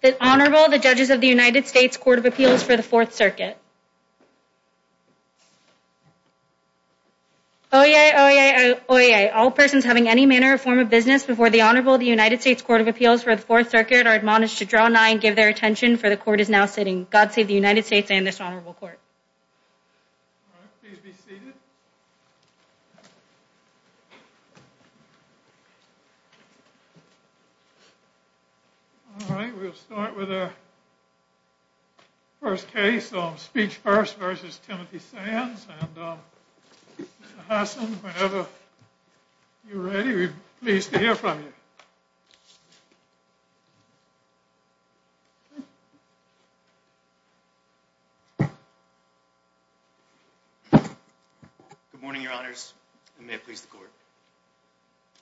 The Honorable, the Judges of the United States Court of Appeals for the Fourth Circuit. Oyez, oyez, oyez, all persons having any manner or form of business before the Honorable, the United States Court of Appeals for the Fourth Circuit are admonished to draw nigh and give their attention, for the Court is now sitting. God save the United States and this Honorable Court. All right, please be seated. All right, we'll start with our first case, Speech First v. Timothy Sands, and Mr. Hassan, whenever you're ready, we'd be pleased to hear from you. Good morning, Your Honors, and may it please the Court.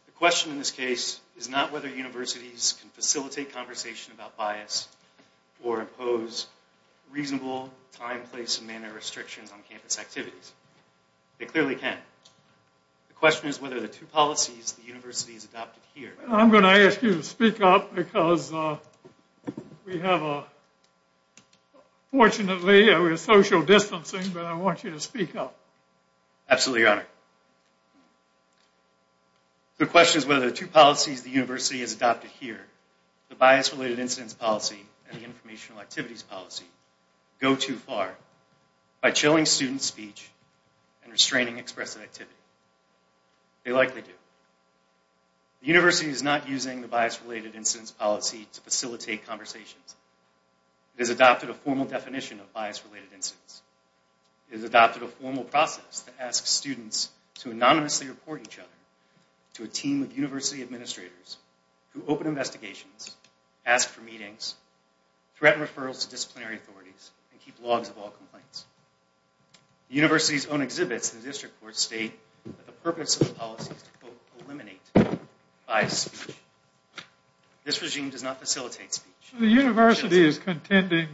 The question in this case is not whether universities can facilitate conversation about bias or impose reasonable time, place, and manner restrictions on campus activities. They clearly can. The question is whether the two policies the universities adopted here... I'm going to ask you to speak up because we have, fortunately, social distancing, but I want you to speak up. Absolutely, Your Honor. The question is whether the two policies the university has adopted here, the bias-related incidents policy and the informational activities policy, go too far by chilling student speech and restraining expressive activity. They likely do. The university is not using the bias-related incidents policy to facilitate conversations. It has adopted a formal definition of bias-related incidents. It has adopted a formal process that asks students to anonymously report each other to a team of university administrators who open investigations, ask for meetings, threaten referrals to disciplinary authorities, and keep logs of all complaints. The university's own exhibits in the district court state that the purpose of the policy is to, quote, eliminate bias speech. This regime does not facilitate speech. The university is contending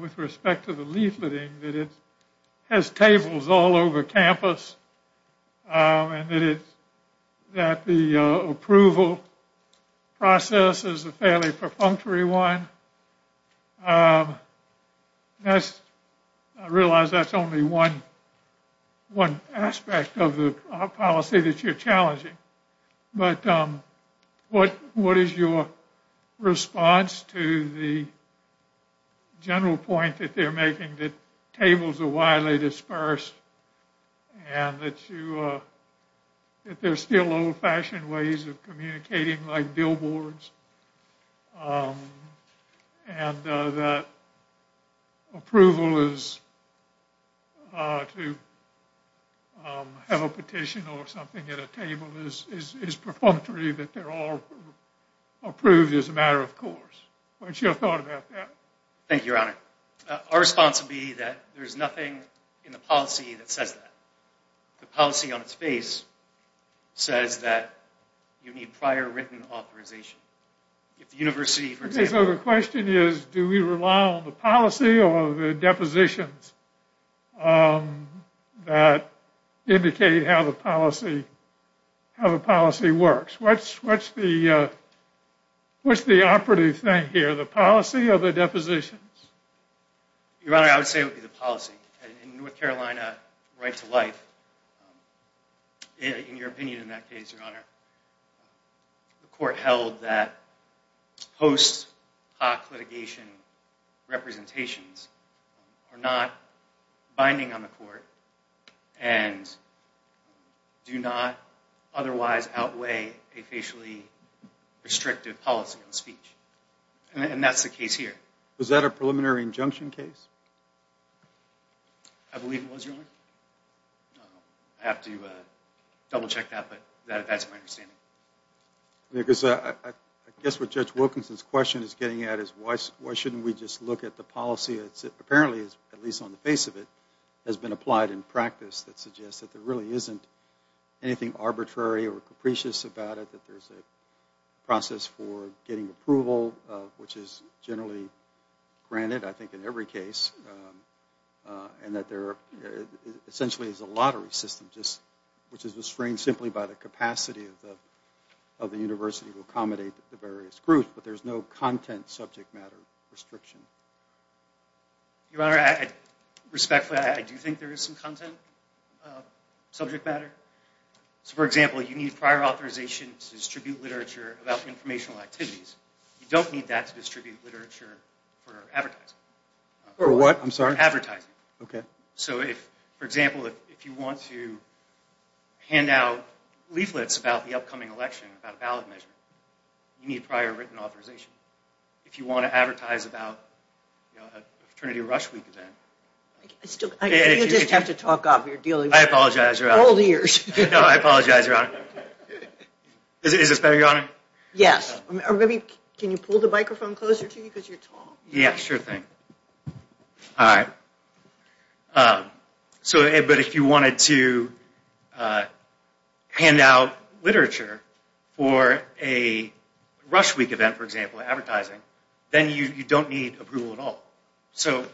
with respect to the leafleting that it has tables all over campus and that the approval process is a fairly perfunctory one. I realize that's only one aspect of the policy that you're challenging, but what is your response to the general point that they're making, that tables are widely dispersed and that there's still old-fashioned ways of communicating like billboards and that approval is to have a petition or something at a table is perfunctory, that they're all approved as a matter of course. What's your thought about that? Thank you, Your Honor. Our response would be that there's nothing in the policy that says that. The policy on its face says that you need prior written authorization. If the university, for example... So the question is, do we rely on the policy or the depositions that indicate how the policy works? What's the operative thing here, the policy or the depositions? Your Honor, I would say it would be the policy. In North Carolina, right to life, in your opinion in that case, Your Honor, the court held that post hoc litigation representations are not binding on the court and do not otherwise outweigh a facially restrictive policy on speech. And that's the case here. Was that a preliminary injunction case? I believe it was, Your Honor. I have to double check that, but that's my understanding. I guess what Judge Wilkinson's question is getting at is why shouldn't we just look at the policy that apparently, at least on the face of it, has been applied in practice that suggests that there really isn't anything arbitrary or capricious about it, that there's a process for getting approval, which is generally granted, I think, in every case, and that there essentially is a lottery system, which is restrained simply by the capacity of the university to accommodate the various groups, but there's no content subject matter restriction. Your Honor, respectfully, I do think there is some content subject matter. So, for example, you need prior authorization to distribute literature about informational activities. You don't need that to distribute literature for advertising. For what? I'm sorry? Advertising. Okay. So, for example, if you want to hand out leaflets about the upcoming election, about a ballot measure, you need prior written authorization. If you want to advertise about a Trinity Rush Week event. You just have to talk up. I apologize, Your Honor. Old ears. No, I apologize, Your Honor. Is this better, Your Honor? Yes. Can you pull the microphone closer to you because you're tall? Yeah, sure thing. All right. So, but if you wanted to hand out literature for a Rush Week event, for example, advertising, then you don't need approval at all. So,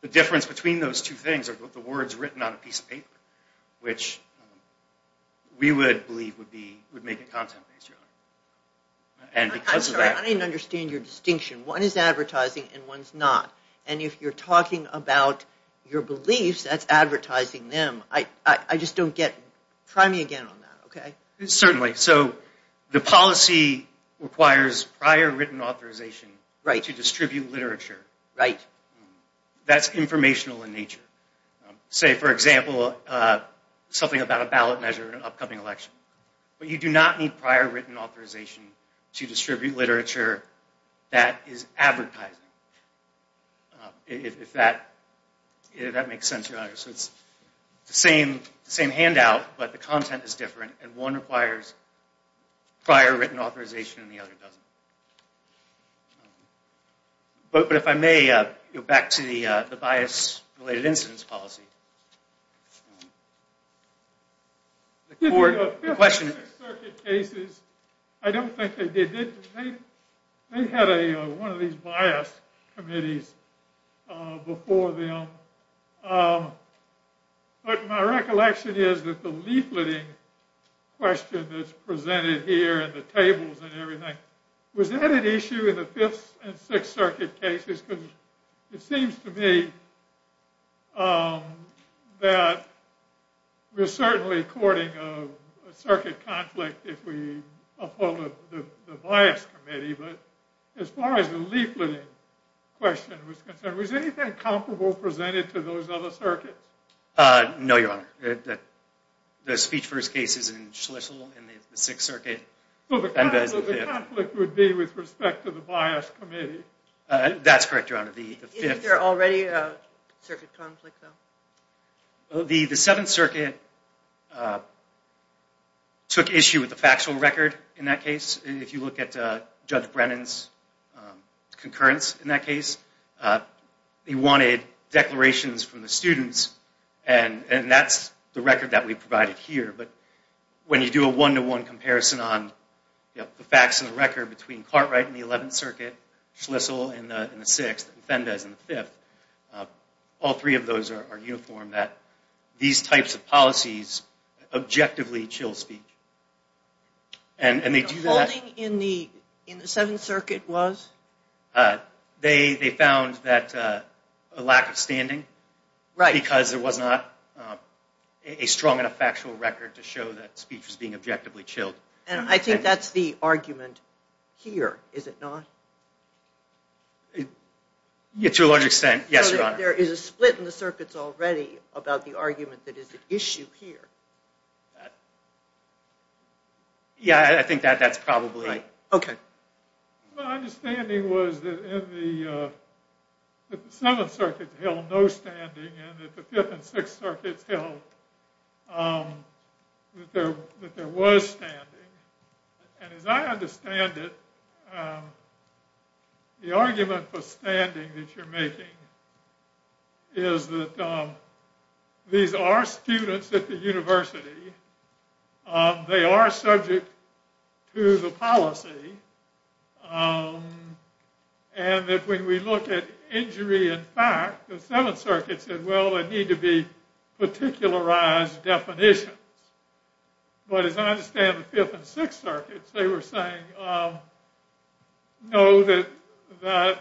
the difference between those two things are the words written on a piece of paper, which we would believe would make it content-based, Your Honor. I'm sorry, I didn't understand your distinction. One is advertising and one's not. And if you're talking about your beliefs, that's advertising them. I just don't get it. Try me again on that, okay? Certainly. So, the policy requires prior written authorization to distribute literature. Right. That's informational in nature. Say, for example, something about a ballot measure in an upcoming election. But you do not need prior written authorization to distribute literature that is advertising. If that makes sense, Your Honor. So, it's the same handout, but the content is different, and one requires prior written authorization and the other doesn't. But, if I may, back to the bias-related incidence policy. The court, the question... The Fifth Circuit cases, I don't think they did. They had one of these bias committees before them. But my recollection is that the leafleting question that's presented here and the tables and everything, was that an issue in the Fifth and Sixth Circuit cases? Because it seems to me that we're certainly courting a circuit conflict if we uphold the bias committee. But as far as the leafleting question was concerned, was anything comparable presented to those other circuits? No, Your Honor. The speech first case is in Schlissel in the Sixth Circuit, and that is the Fifth. So the conflict would be with respect to the bias committee? That's correct, Your Honor. Is there already a circuit conflict, though? The Seventh Circuit took issue with the factual record in that case. If you look at Judge Brennan's concurrence in that case, he wanted declarations from the students, and that's the record that we provided here. But when you do a one-to-one comparison on the facts and the record between Cartwright in the Eleventh Circuit, Schlissel in the Sixth, and Fendes in the Fifth, all three of those are uniform, that these types of policies objectively chill speech. The holding in the Seventh Circuit was? They found a lack of standing because there was not a strong enough factual record to show that speech was being objectively chilled. And I think that's the argument here, is it not? To a large extent, yes, Your Honor. So there is a split in the circuits already about the argument that is at issue here. Yeah, I think that's probably it. My understanding was that the Seventh Circuit held no standing and that the Fifth and Sixth Circuits held that there was standing. And as I understand it, the argument for standing that you're making is that these are students at the university. They are subject to the policy. And that when we look at injury in fact, the Seventh Circuit said, well, there need to be particularized definitions. But as I understand the Fifth and Sixth Circuits, they were saying, no, that this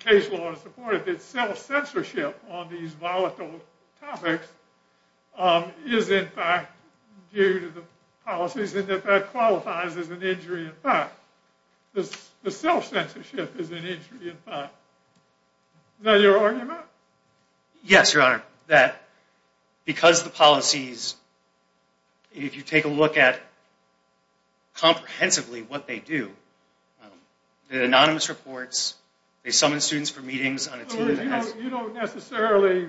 case law is supported, that self-censorship on these volatile topics is in fact due to the policies and that that qualifies as an injury in fact. The self-censorship is an injury in fact. Is that your argument? Yes, Your Honor. Because the policies, if you take a look at comprehensively what they do, the anonymous reports, they summon students for meetings. You don't necessarily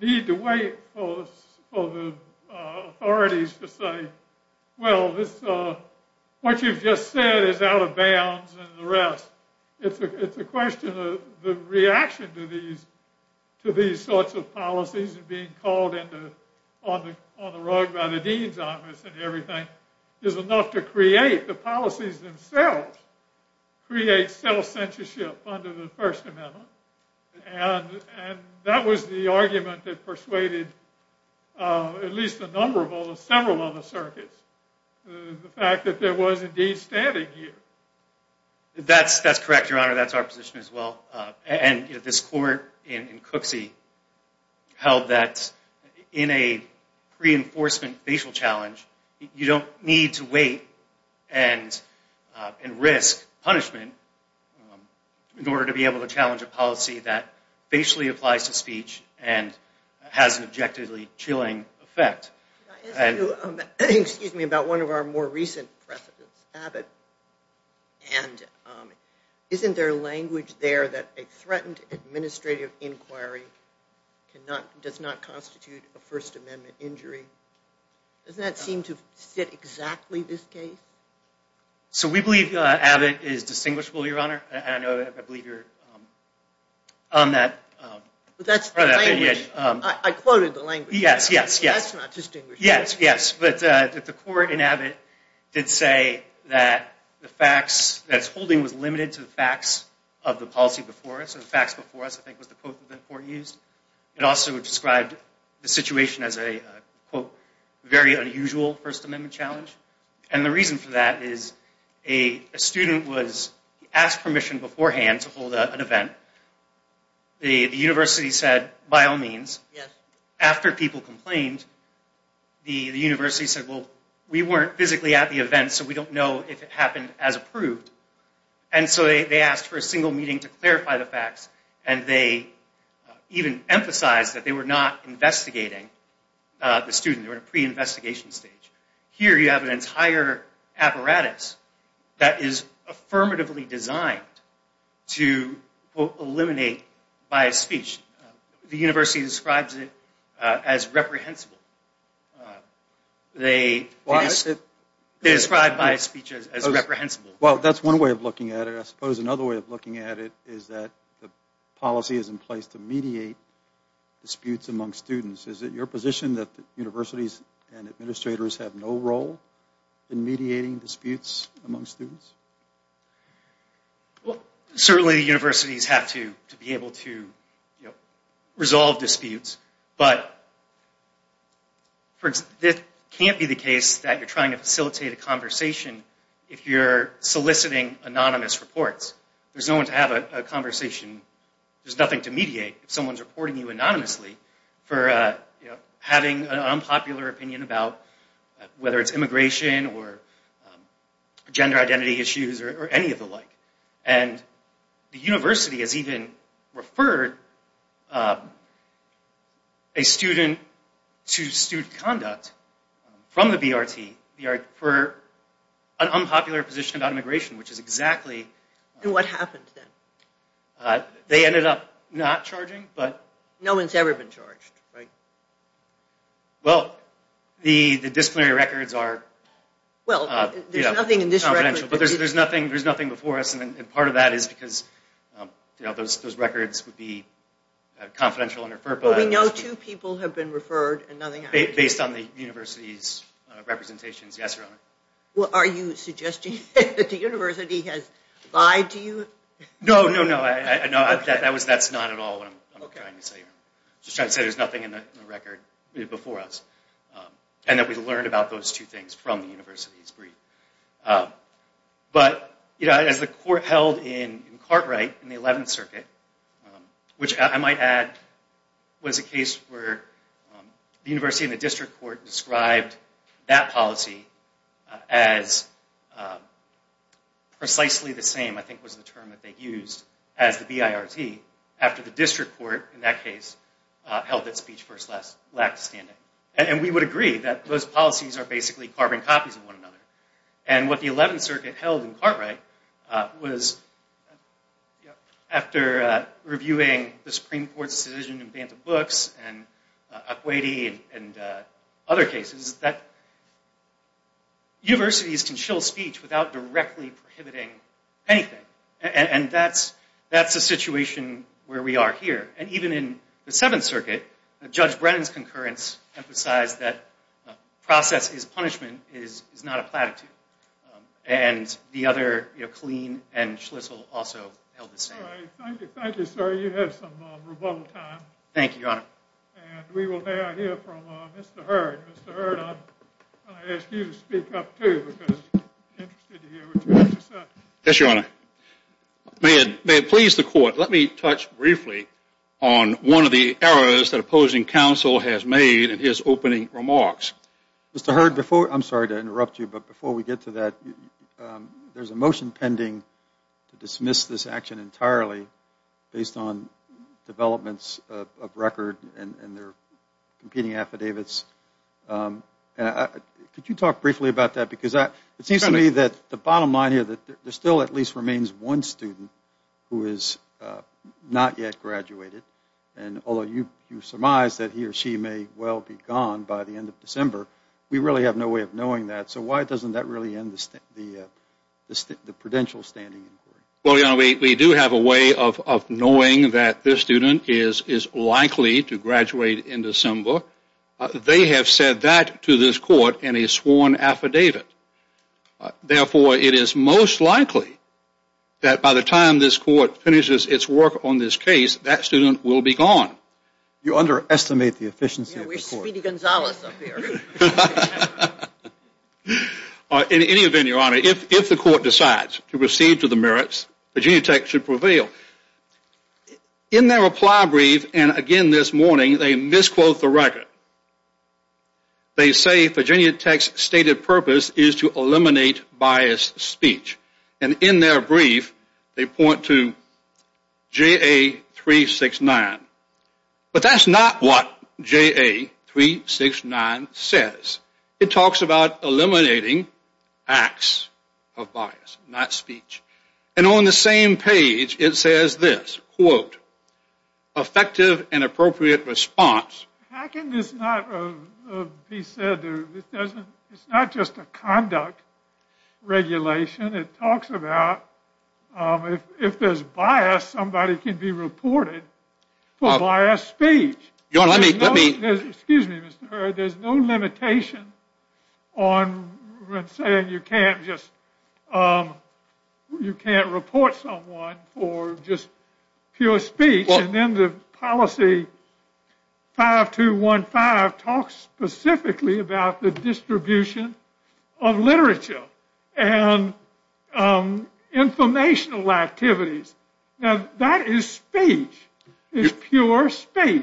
need to wait for the authorities to say, well, what you've just said is out of bounds and the rest. It's a question of the reaction to these sorts of policies being called on the rug by the dean's office and everything is enough to create the policies themselves, create self-censorship under the First Amendment. And that was the argument that persuaded at least a number of several other circuits, the fact that there was indeed standing here. That's correct, Your Honor. That's our position as well. And this court in Cooksey held that in a reinforcement facial challenge, you don't need to wait and risk punishment in order to be able to challenge a policy that facially applies to speech and has an objectively chilling effect. Excuse me about one of our more recent precedents, Abbott. And isn't there language there that a threatened administrative inquiry does not constitute a First Amendment injury? Doesn't that seem to fit exactly this case? So we believe Abbott is distinguishable, Your Honor. I believe you're on that. That's the language. I quoted the language. Yes, yes, yes. That's not distinguishable. Yes, yes. But the court in Abbott did say that the facts that it's holding was limited to the facts of the policy before us. And the facts before us, I think, was the quote that the court used. It also described the situation as a, quote, very unusual First Amendment challenge. And the reason for that is a student was asked permission beforehand to hold an event. The university said, by all means. Yes. After people complained, the university said, well, we weren't physically at the event, so we don't know if it happened as approved. And so they asked for a single meeting to clarify the facts, and they even emphasized that they were not investigating the student. They were in a pre-investigation stage. Here you have an entire apparatus that is affirmatively designed to, quote, eliminate biased speech. The university describes it as reprehensible. They describe biased speech as reprehensible. Well, that's one way of looking at it. I suppose another way of looking at it is that the policy is in place to mediate disputes among students. Is it your position that universities and administrators have no role in mediating disputes among students? Well, certainly universities have to be able to resolve disputes, but it can't be the case that you're trying to facilitate a conversation if you're soliciting anonymous reports. There's no one to have a conversation. There's nothing to mediate if someone's reporting you anonymously for having an unpopular opinion about whether it's immigration or gender identity issues or any of the like. And the university has even referred a student to student conduct from the BRT for an unpopular position about immigration, which is exactly... And what happened then? They ended up not charging, but... No one's ever been charged, right? Well, the disciplinary records are confidential, but there's nothing before us, and part of that is because those records would be confidential and referred... But we know two people have been referred and nothing happened. Based on the university's representations, yes, Your Honor. Are you suggesting that the university has lied to you? No, no, no. That's not at all what I'm trying to say. I'm just trying to say there's nothing in the record before us, and that we learned about those two things from the university's brief. But as the court held in Cartwright in the 11th Circuit, which I might add was a case where the university and the district court described that policy as precisely the same, I think was the term that they used, as the BIRT, after the district court, in that case, held that speech lacked standing. And we would agree that those policies are basically carbon copies of one another. And what the 11th Circuit held in Cartwright was, after reviewing the Supreme Court's decision in Bantam Books, and Akwetey, and other cases, that universities can shill speech without directly prohibiting anything. And that's the situation where we are here. And even in the 7th Circuit, Judge Brennan's concurrence emphasized that process is punishment, is not a platitude. And the other, you know, Killeen and Schlissel also held the same. Thank you, thank you, sir. You had some rebuttal time. Thank you, Your Honor. And we will now hear from Mr. Hurd. Mr. Hurd, I'm going to ask you to speak up, too, because I'm interested to hear what you have to say. Yes, Your Honor. May it please the Court, let me touch briefly on one of the errors that opposing counsel has made in his opening remarks. Mr. Hurd, I'm sorry to interrupt you, but before we get to that, there's a motion pending to dismiss this action entirely based on developments of record and their competing affidavits. Could you talk briefly about that? Because it seems to me that the bottom line here, that there still at least remains one student who has not yet graduated. And although you surmise that he or she may well be gone by the end of December, we really have no way of knowing that. So why doesn't that really end the prudential standing inquiry? Well, Your Honor, we do have a way of knowing that this student is likely to graduate in December. They have said that to this Court in a sworn affidavit. Therefore, it is most likely that by the time this Court finishes its work on this case, that student will be gone. You underestimate the efficiency of the Court. Yeah, we're Speedy Gonzales up here. In any event, Your Honor, if the Court decides to proceed to the merits, Virginia Tech should prevail. In their reply brief, and again this morning, they misquote the record. They say Virginia Tech's stated purpose is to eliminate biased speech. And in their brief, they point to JA369. But that's not what JA369 says. It talks about eliminating acts of bias, not speech. And on the same page, it says this, quote, effective and appropriate response. How can this not be said? It's not just a conduct regulation. It talks about if there's bias, somebody can be reported for biased speech. Excuse me, Mr. Hurd. There's no limitation on saying you can't report someone for just pure speech. And then the policy 5215 talks specifically about the distribution of literature and informational activities. Now, that is speech. It's pure speech.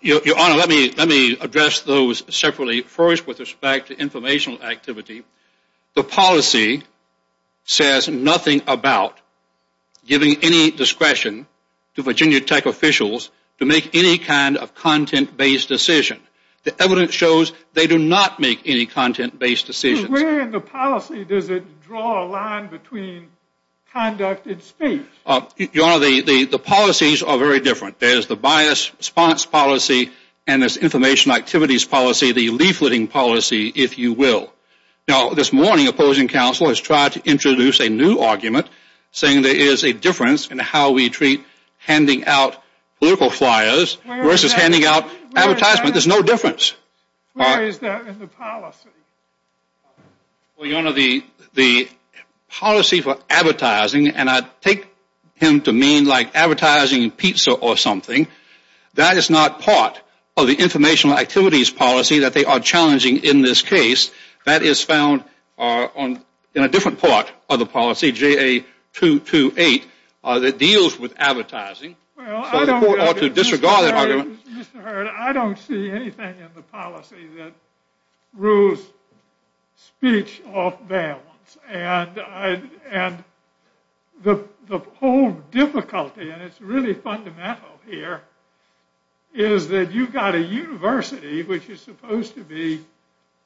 Your Honor, let me address those separately. First, with respect to informational activity, the policy says nothing about giving any discretion to Virginia Tech officials to make any kind of content-based decision. The evidence shows they do not make any content-based decisions. Where in the policy does it draw a line between conduct and speech? Your Honor, the policies are very different. There's the bias response policy and this information activities policy, the leafleting policy, if you will. Now, this morning, opposing counsel has tried to introduce a new argument saying there is a difference in how we treat handing out political flyers versus handing out advertisement. There's no difference. Where is that in the policy? Well, Your Honor, the policy for advertising, and I take him to mean like advertising pizza or something, that is not part of the informational activities policy that they are challenging in this case. That is found in a different part of the policy, JA228, that deals with advertising. Mr. Hurd, I don't see anything in the policy that rules speech off balance. And the whole difficulty, and it's really fundamental here, is that you've got a university, which is supposed to be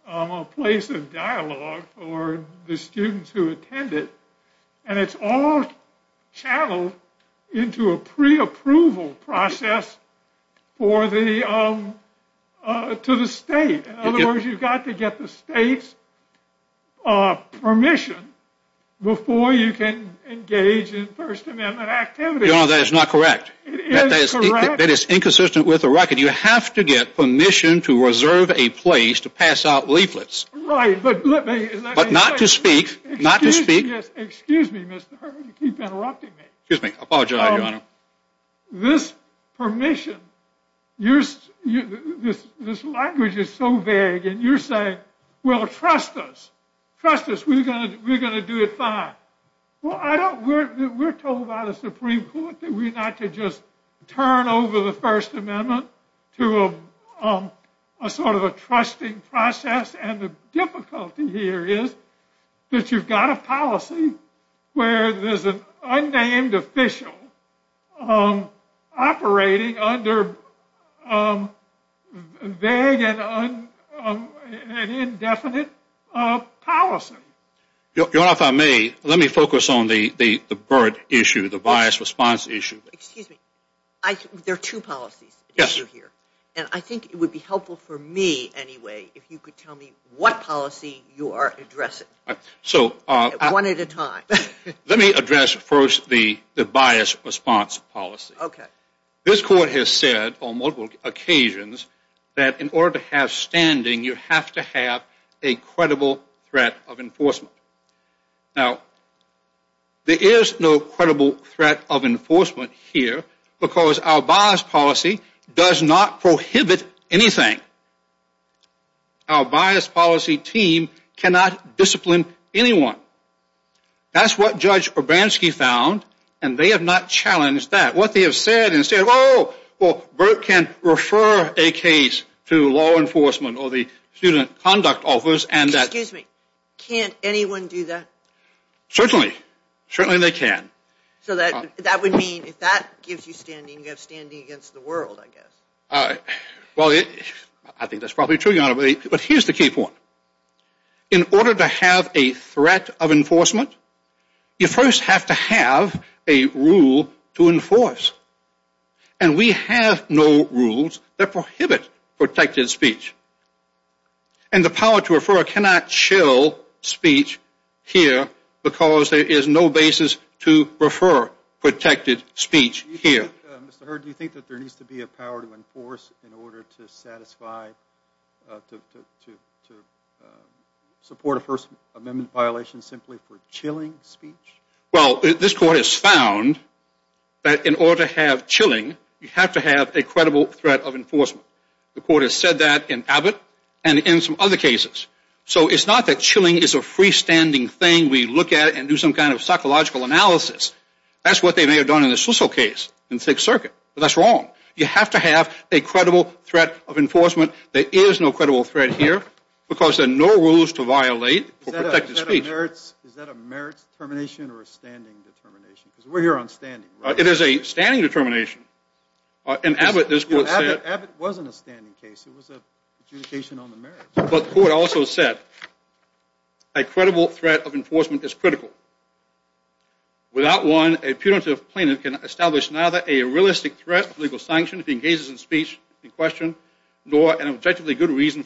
a place of dialogue for the students who attend it, and it's all channeled into a pre-approval process to the state. In other words, you've got to get the state's permission before you can engage in First Amendment activities. Your Honor, that is not correct. It is correct. That is inconsistent with the record. You have to get permission to reserve a place to pass out leaflets. Right, but let me explain. But not to speak, not to speak. Excuse me, Mr. Hurd. You keep interrupting me. Excuse me. I apologize, Your Honor. This permission, this language is so vague, and you're saying, well, trust us. Trust us. We're going to do it fine. Well, we're told by the Supreme Court that we're not to just turn over the First Amendment to a sort of a trusting process, and the difficulty here is that you've got a policy where there's an unnamed official operating under vague and indefinite policy. Your Honor, if I may, let me focus on the BERT issue, the bias response issue. Excuse me. There are two policies. Yes. And I think it would be helpful for me anyway if you could tell me what policy you are addressing, one at a time. Let me address first the bias response policy. Okay. This Court has said on multiple occasions that in order to have standing, you have to have a credible threat of enforcement. Now, there is no credible threat of enforcement here because our bias policy does not prohibit anything. Our bias policy team cannot discipline anyone. That's what Judge Urbanski found, and they have not challenged that. What they have said is, oh, well, BERT can refer a case to law enforcement or the Student Conduct Office, and that... Can anyone do that? Certainly. Certainly they can. So that would mean if that gives you standing, you have standing against the world, I guess. Well, I think that's probably true, Your Honor. But here's the key point. In order to have a threat of enforcement, you first have to have a rule to enforce. And we have no rules that prohibit protected speech. And the power to refer cannot chill speech here because there is no basis to refer protected speech here. Mr. Hurd, do you think that there needs to be a power to enforce in order to satisfy, to support a First Amendment violation simply for chilling speech? Well, this Court has found that in order to have chilling, you have to have a credible threat of enforcement. The Court has said that in Abbott and in some other cases. So it's not that chilling is a freestanding thing we look at and do some kind of psychological analysis. That's what they may have done in the Schlissel case in Sixth Circuit, but that's wrong. You have to have a credible threat of enforcement. There is no credible threat here because there are no rules to violate for protected speech. Is that a merits determination or a standing determination? Because we're here on standing, right? It is a standing determination. In Abbott, this Court said... Abbott wasn't a standing case. It was an adjudication on the merits. But the Court also said, a credible threat of enforcement is critical. Without one, a punitive plaintiff can establish neither a realistic threat of legal sanction if he engages in speech in question, nor an objectively good reason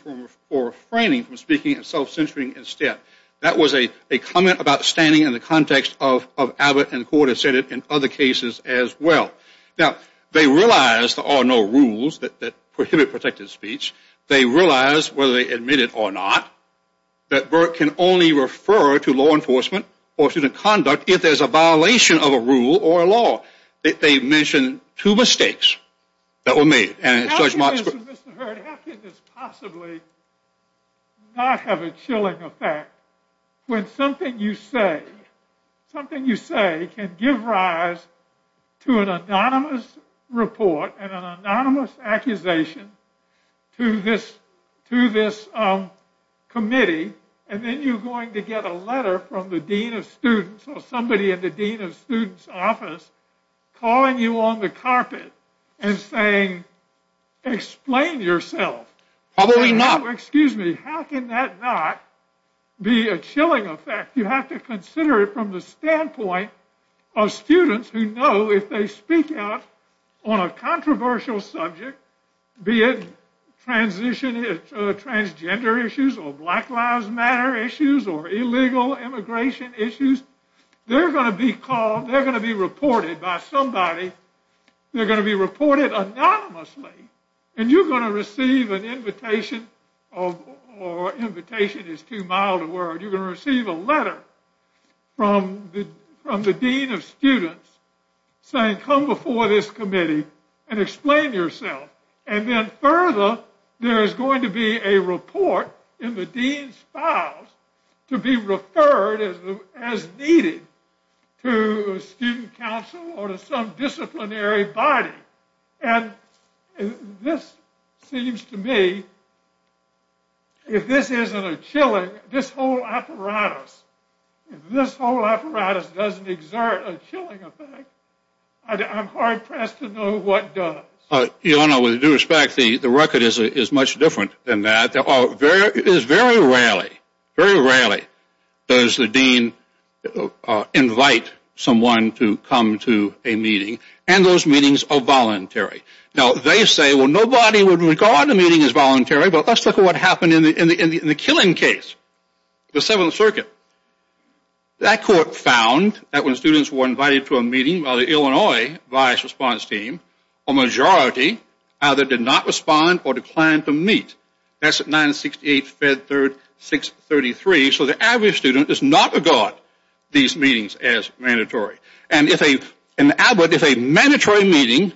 for refraining from speaking and self-censoring instead. That was a comment about standing in the context of Abbott, and the Court has said it in other cases as well. Now, they realize there are no rules that prohibit protected speech. They realize, whether they admit it or not, that Burke can only refer to law enforcement or student conduct if there's a violation of a rule or a law. They mention two mistakes that were made. How can this, Mr. Hurd, how can this possibly not have a chilling effect when something you say can give rise to an anonymous report and an anonymous accusation to this committee, and then you're going to get a letter from the dean of students or somebody in the dean of students' office calling you on the carpet and saying, Explain yourself. How can that not be a chilling effect? You have to consider it from the standpoint of students who know if they speak out on a controversial subject, be it transgender issues or Black Lives Matter issues or illegal immigration issues, they're going to be called, they're going to be reported by somebody, they're going to be reported anonymously, and you're going to receive an invitation, or invitation is too mild a word, you're going to receive a letter from the dean of students saying, Come before this committee and explain yourself. And then further, there is going to be a report in the dean's files to be referred as needed to a student council or to some disciplinary body. And this seems to me, if this isn't a chilling, this whole apparatus, if this whole apparatus doesn't exert a chilling effect, I'm hard-pressed to know what does. You know, with due respect, the record is much different than that. It is very rarely, very rarely, does the dean invite someone to come to a meeting, and those meetings are voluntary. Now, they say, Well, nobody would regard the meeting as voluntary, but let's look at what happened in the killing case, the Seventh Circuit. That court found that when students were invited to a meeting by the Illinois Vice Response Team, a majority either did not respond or declined to meet. That's at 968 Fed 3rd 633. So the average student does not regard these meetings as mandatory. And if a mandatory meeting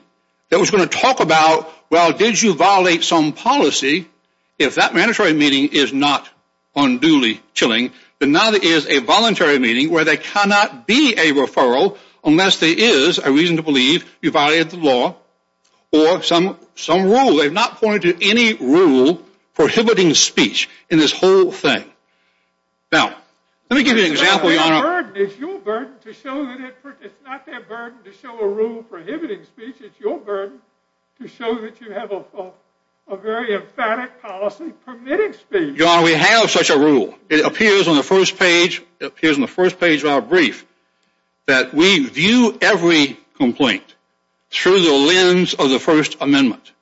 that was going to talk about, Well, did you violate some policy? If that mandatory meeting is not unduly chilling, then now there is a voluntary meeting where there cannot be a referral unless there is a reason to believe you violated the law or some rule. They have not pointed to any rule prohibiting speech in this whole thing. Now, let me give you an example, Your Honor. It's your burden to show that it's not their burden to show a rule prohibiting speech. It's your burden to show that you have a very emphatic policy permitting speech. Your Honor, we have such a rule. It appears on the first page of our brief that we view every complaint through the lens of the First Amendment.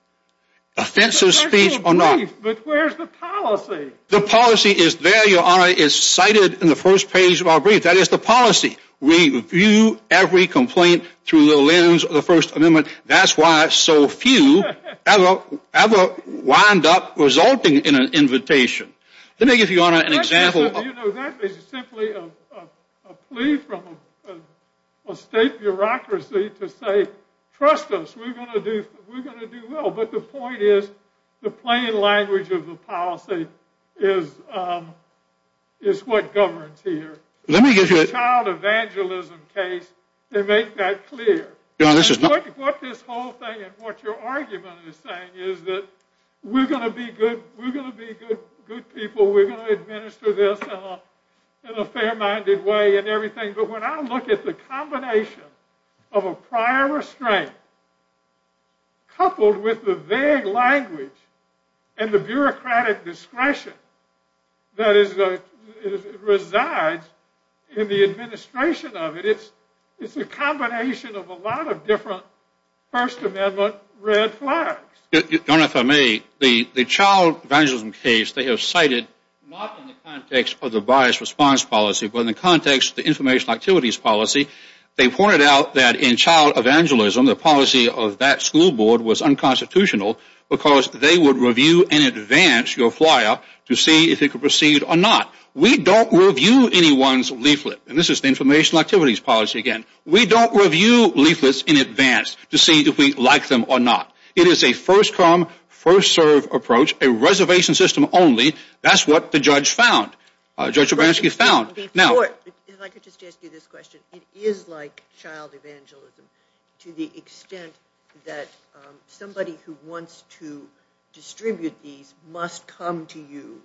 Offensive speech or not. But where's the policy? The policy is there, Your Honor. It's cited in the first page of our brief. That is the policy. We view every complaint through the lens of the First Amendment. That's why so few ever wind up resulting in an invitation. Let me give you, Your Honor, an example. You know, that is simply a plea from a state bureaucracy to say, trust us, we're going to do well. But the point is the plain language of the policy is what governs here. Let me give you a child evangelism case to make that clear. What this whole thing and what your argument is saying is that we're going to be good people. We're going to administer this in a fair-minded way and everything. But when I look at the combination of a prior restraint coupled with the vague language and the bureaucratic discretion that resides in the administration of it, it's a combination of a lot of different First Amendment red flags. Jonathan, if I may, the child evangelism case they have cited, not in the context of the bias response policy, but in the context of the information activities policy, they pointed out that in child evangelism, the policy of that school board was unconstitutional because they would review in advance your flyer to see if it could proceed or not. We don't review anyone's leaflet. And this is the information activities policy again. We don't review leaflets in advance to see if we like them or not. It is a first-come, first-served approach, a reservation system only. That's what the judge found. Judge Obransky found. Before, if I could just ask you this question, it is like child evangelism to the extent that somebody who wants to distribute these must come to you,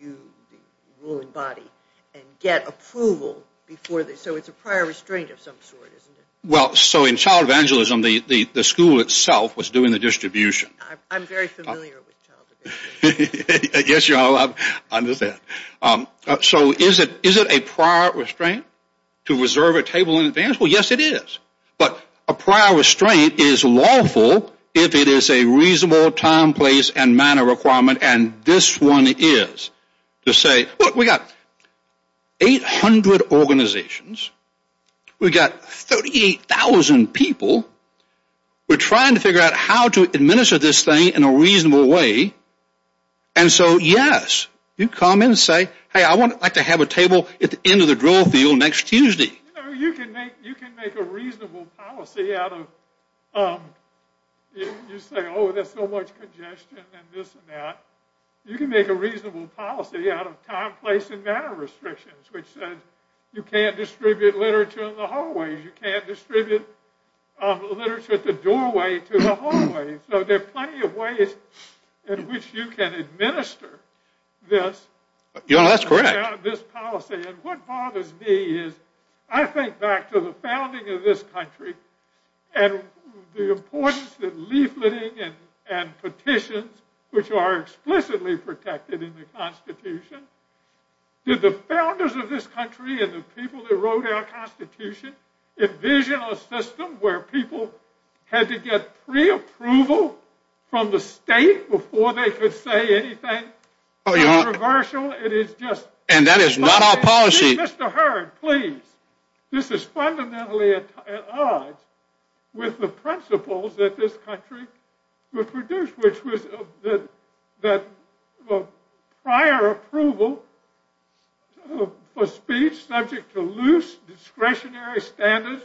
you, the ruling body, and get approval before this. So it's a prior restraint of some sort, isn't it? Well, so in child evangelism, the school itself was doing the distribution. I'm very familiar with child evangelism. Yes, you are. I understand. So is it a prior restraint to reserve a table in advance? Well, yes, it is. But a prior restraint is lawful if it is a reasonable time, place, and manner requirement. And this one is to say, look, we've got 800 organizations. We've got 38,000 people. We're trying to figure out how to administer this thing in a reasonable way. And so, yes, you come in and say, hey, I would like to have a table at the end of the drill field next Tuesday. You can make a reasonable policy out of, you say, oh, there's so much congestion and this and that. You can make a reasonable policy out of time, place, and manner restrictions, which says you can't distribute literature in the hallways. You can't distribute literature at the doorway to the hallways. So there are plenty of ways in which you can administer this. Yes, that's correct. This policy. And what bothers me is I think back to the founding of this country and the importance that leafleting and petitions, which are explicitly protected in the Constitution, did the founders of this country and the people that wrote our Constitution envision a system where people had to get preapproval from the state before they could say anything controversial? And that is not our policy. Mr. Hurd, please. This is fundamentally at odds with the principles that this country would produce, which was prior approval for speech subject to loose discretionary standards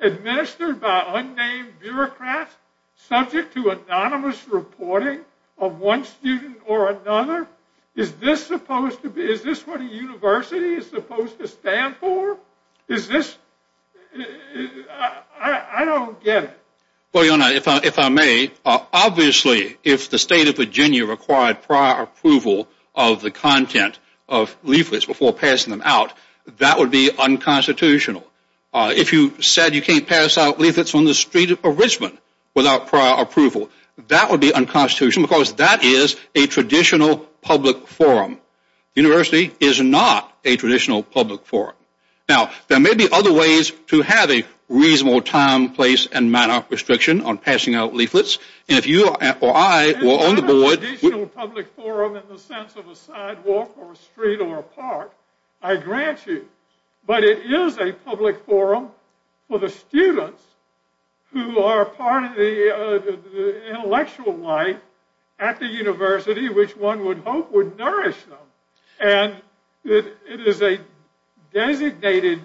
administered by unnamed bureaucrats subject to anonymous reporting of one student or another. Is this what a university is supposed to stand for? Is this? I don't get it. Well, you know, if I may, obviously if the state of Virginia required prior approval of the content of leaflets before passing them out, that would be unconstitutional. If you said you can't pass out leaflets on the street of Richmond without prior approval, that would be unconstitutional because that is a traditional public forum. The university is not a traditional public forum. Now, there may be other ways to have a reasonable time, place, and manner of restriction on passing out leaflets. And if you or I or on the board... It's not a traditional public forum in the sense of a sidewalk or a street or a park, I grant you. But it is a public forum for the students who are part of the intellectual life at the university, which one would hope would nourish them. And it is a designated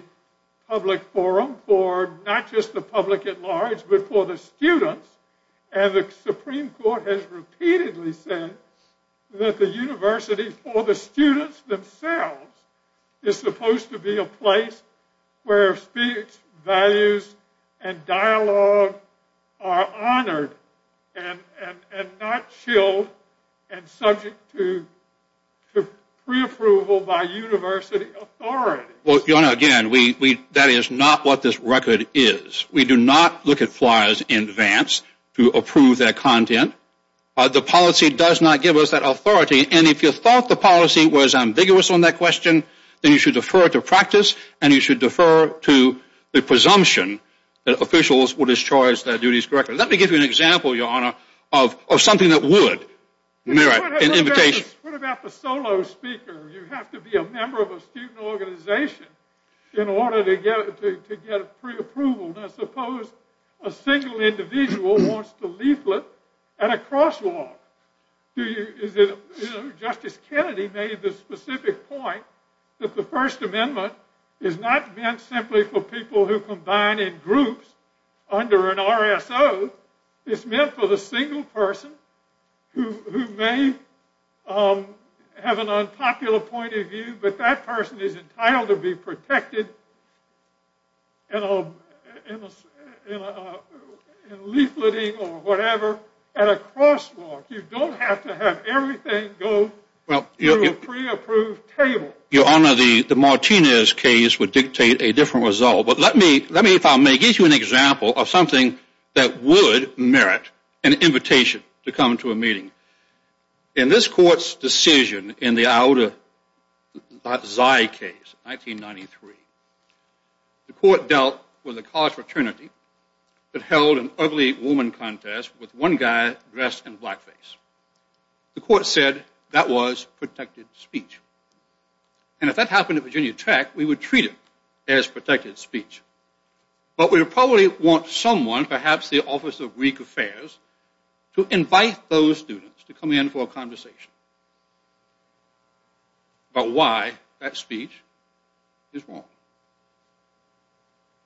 public forum for not just the public at large but for the students. And the Supreme Court has repeatedly said that the university for the students themselves is supposed to be a place where speech, values, and dialogue are honored and not chilled and subject to preapproval by university authorities. Well, Jonah, again, that is not what this record is. We do not look at flyers in advance to approve their content. The policy does not give us that authority. And if you thought the policy was ambiguous on that question, then you should defer to practice and you should defer to the presumption that officials will discharge their duties correctly. Let me give you an example, Your Honor, of something that would merit an invitation. What about the solo speaker? You have to be a member of a student organization in order to get preapproval. Now suppose a single individual wants to leaflet at a crosswalk. Justice Kennedy made the specific point that the First Amendment is not meant simply for people who combine in groups under an RSO. It's meant for the single person who may have an unpopular point of view, but that person is entitled to be protected in leafleting or whatever at a crosswalk. You don't have to have everything go through a preapproved table. Your Honor, the Martinez case would dictate a different result. But let me, if I may, give you an example of something that would merit an invitation to come to a meeting. In this Court's decision in the Iota Zai case in 1993, the Court dealt with a college fraternity that held an ugly woman contest with one guy dressed in blackface. The Court said that was protected speech. And if that happened at Virginia Tech, we would treat it as protected speech. But we would probably want someone, perhaps the Office of Greek Affairs, to invite those students to come in for a conversation about why that speech is wrong.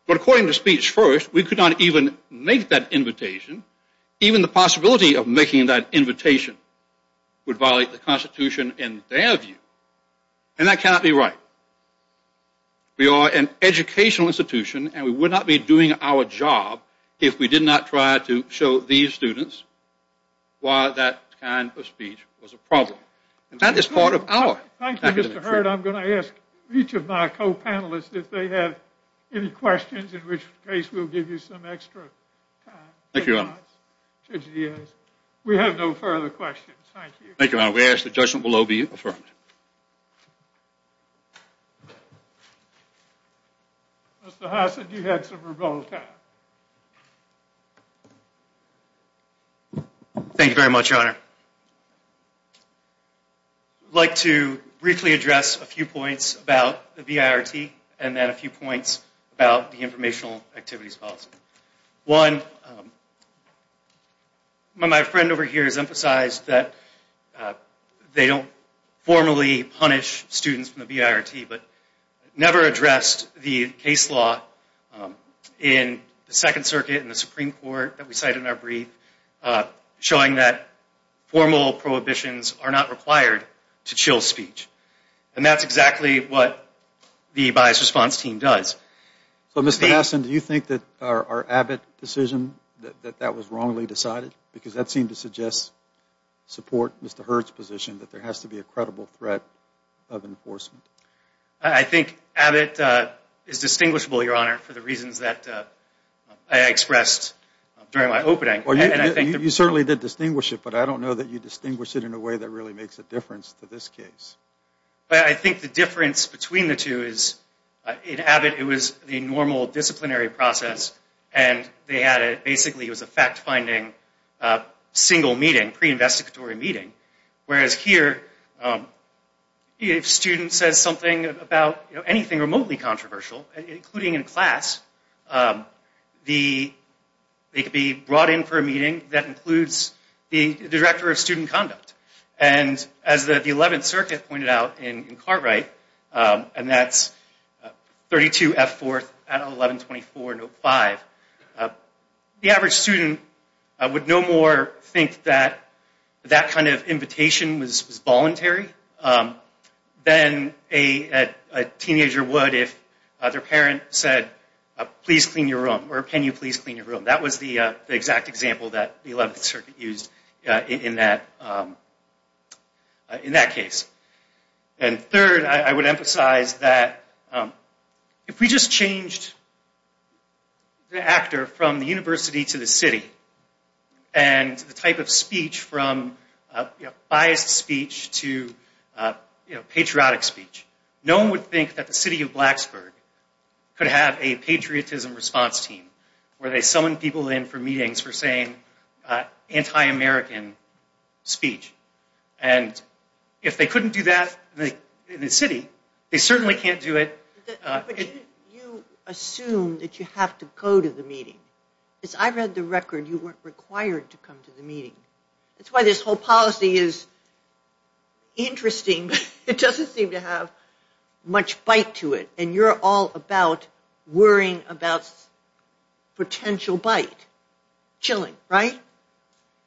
But according to Speech First, we could not even make that invitation. Even the possibility of making that invitation would violate the Constitution in their view. And that cannot be right. We are an educational institution, and we would not be doing our job if we did not try to show these students why that kind of speech was a problem. And that is part of our academic mission. Thank you, Mr. Hurd. I'm going to ask each of my co-panelists if they have any questions, in which case we'll give you some extra time. We have no further questions. Thank you. Thank you, Your Honor. We ask that judgment below be affirmed. Mr. Hassett, you had some rebuttal time. Thank you very much, Your Honor. I'd like to briefly address a few points about the BIRT and then a few points about the Informational Activities Policy. One, my friend over here has emphasized that they don't formally punish students from the BIRT, but never addressed the case law in the Second Circuit and the Supreme Court that we cited in our brief, showing that formal prohibitions are not required to chill speech. And that's exactly what the Bias Response Team does. So, Mr. Hassett, do you think that our Abbott decision, that that was wrongly decided? Because that seemed to suggest support Mr. Hurd's position that there has to be a credible threat of enforcement. I think Abbott is distinguishable, Your Honor, for the reasons that I expressed during my opening. You certainly did distinguish it, but I don't know that you distinguish it in a way that really makes a difference to this case. I think the difference between the two is, in Abbott it was the normal disciplinary process and they had basically a fact-finding single meeting, pre-investigatory meeting. Whereas here, if a student says something about anything remotely controversial, including in class, they could be brought in for a meeting and I think that includes the Director of Student Conduct. And as the 11th Circuit pointed out in Cartwright, and that's 32F4 at 1124 Note 5, the average student would no more think that that kind of invitation was voluntary than a teenager would if their parent said, please clean your room, or can you please clean your room. That was the exact example that the 11th Circuit used in that case. And third, I would emphasize that if we just changed the actor from the university to the city, and the type of speech from biased speech to patriotic speech, no one would think that the city of Blacksburg could have a patriotism response team where they summon people in for meetings for saying anti-American speech. And if they couldn't do that in the city, they certainly can't do it... But didn't you assume that you have to go to the meeting? Because I read the record, you weren't required to come to the meeting. That's why this whole policy is interesting. It doesn't seem to have much bite to it. And you're all about worrying about potential bite. Chilling, right?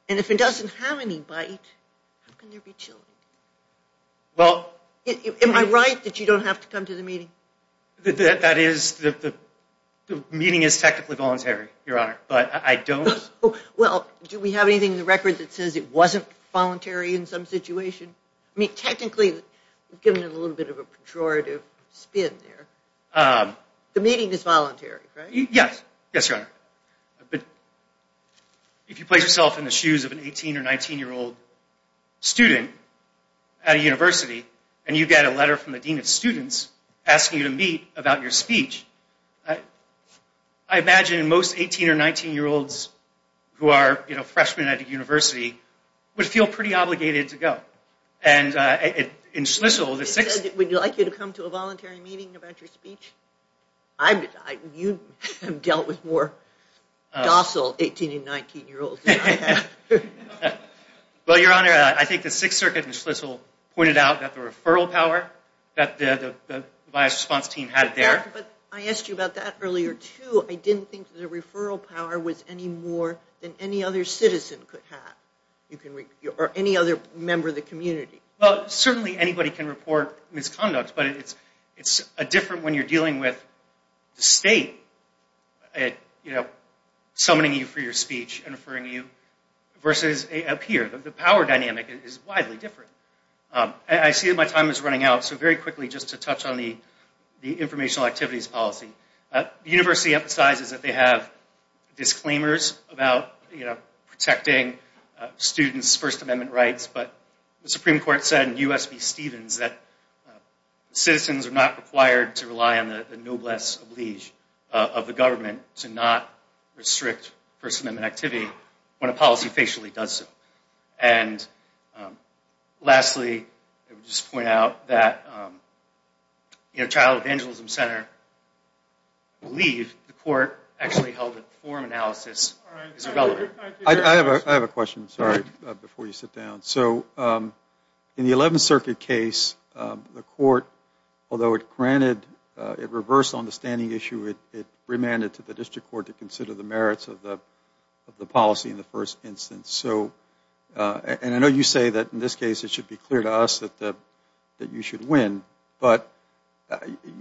And if it doesn't have any bite, how can there be chilling? Am I right that you don't have to come to the meeting? The meeting is technically voluntary, Your Honor, but I don't... Well, do we have anything in the record that says it wasn't voluntary in some situation? I mean, technically, we've given it a little bit of a pejorative spin there. The meeting is voluntary, right? Yes. Yes, Your Honor. But if you place yourself in the shoes of an 18 or 19-year-old student at a university, and you get a letter from the dean of students asking you to meet about your speech, I imagine most 18 or 19-year-olds who are freshmen at a university would feel pretty obligated to go. And in Schlissel, the Sixth... Would you like me to come to a voluntary meeting about your speech? You have dealt with more docile 18 and 19-year-olds than I have. Well, Your Honor, I think the Sixth Circuit in Schlissel pointed out that the referral power that the bias response team had there... But I asked you about that earlier, too. I didn't think the referral power was any more than any other citizen could have or any other member of the community. Well, certainly anybody can report misconduct, but it's different when you're dealing with the state summoning you for your speech and referring you versus up here. The power dynamic is widely different. I see that my time is running out, so very quickly, just to touch on the informational activities policy. The university emphasizes that they have disclaimers about protecting students' First Amendment rights, but the Supreme Court said in U.S. v. Stevens that citizens are not required to rely on the noblesse oblige of the government to not restrict First Amendment activity when a policy facially does so. And lastly, I would just point out that Child Evangelism Center believed the court actually held that the form analysis is relevant. I have a question, sorry, before you sit down. So in the Eleventh Circuit case, the court, although it granted... it reversed on the standing issue, it remanded to the district court to consider the merits of the policy in the first instance. And I know you say that in this case it should be clear to us that you should win, but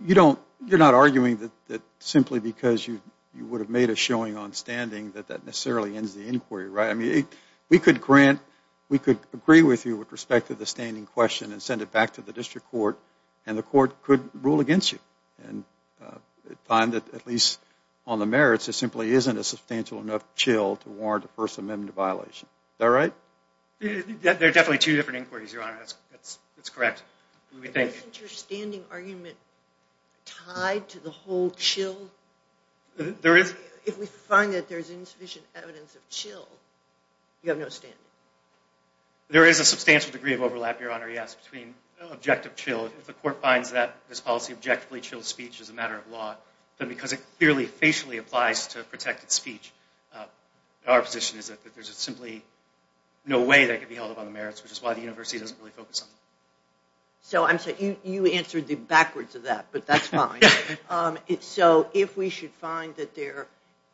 you're not arguing that simply because you would have made a showing on standing that that necessarily ends the inquiry, right? I mean, we could agree with you with respect to the standing question and send it back to the district court and the court could rule against you and find that at least on the merits there simply isn't a substantial enough chill to warrant a First Amendment violation. Is that right? There are definitely two different inquiries, Your Honor. That's correct. Isn't your standing argument tied to the whole chill? There is. If we find that there's insufficient evidence of chill, you have no standing. There is a substantial degree of overlap, Your Honor, yes, between objective chill. If the court finds that this policy objectively chills speech as a matter of law, then because it clearly, facially applies to protected speech, our position is that there's simply no way that could be held up on the merits, which is why the university doesn't really focus on it. So you answered the backwards of that, but that's fine. So if we should find that there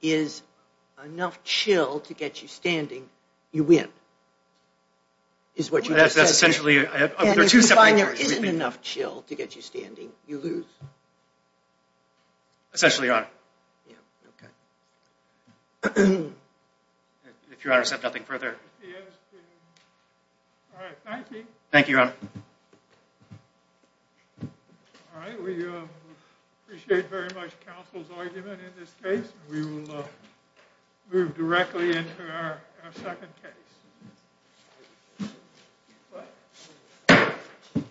is enough chill to get you standing, you win, is what you just said. That's essentially it. If you find there isn't enough chill to get you standing, you lose. Essentially, Your Honor. Yeah, okay. If Your Honor would accept nothing further. All right, thank you. Thank you, Your Honor. All right, we appreciate very much counsel's argument in this case. We will move directly into our second case.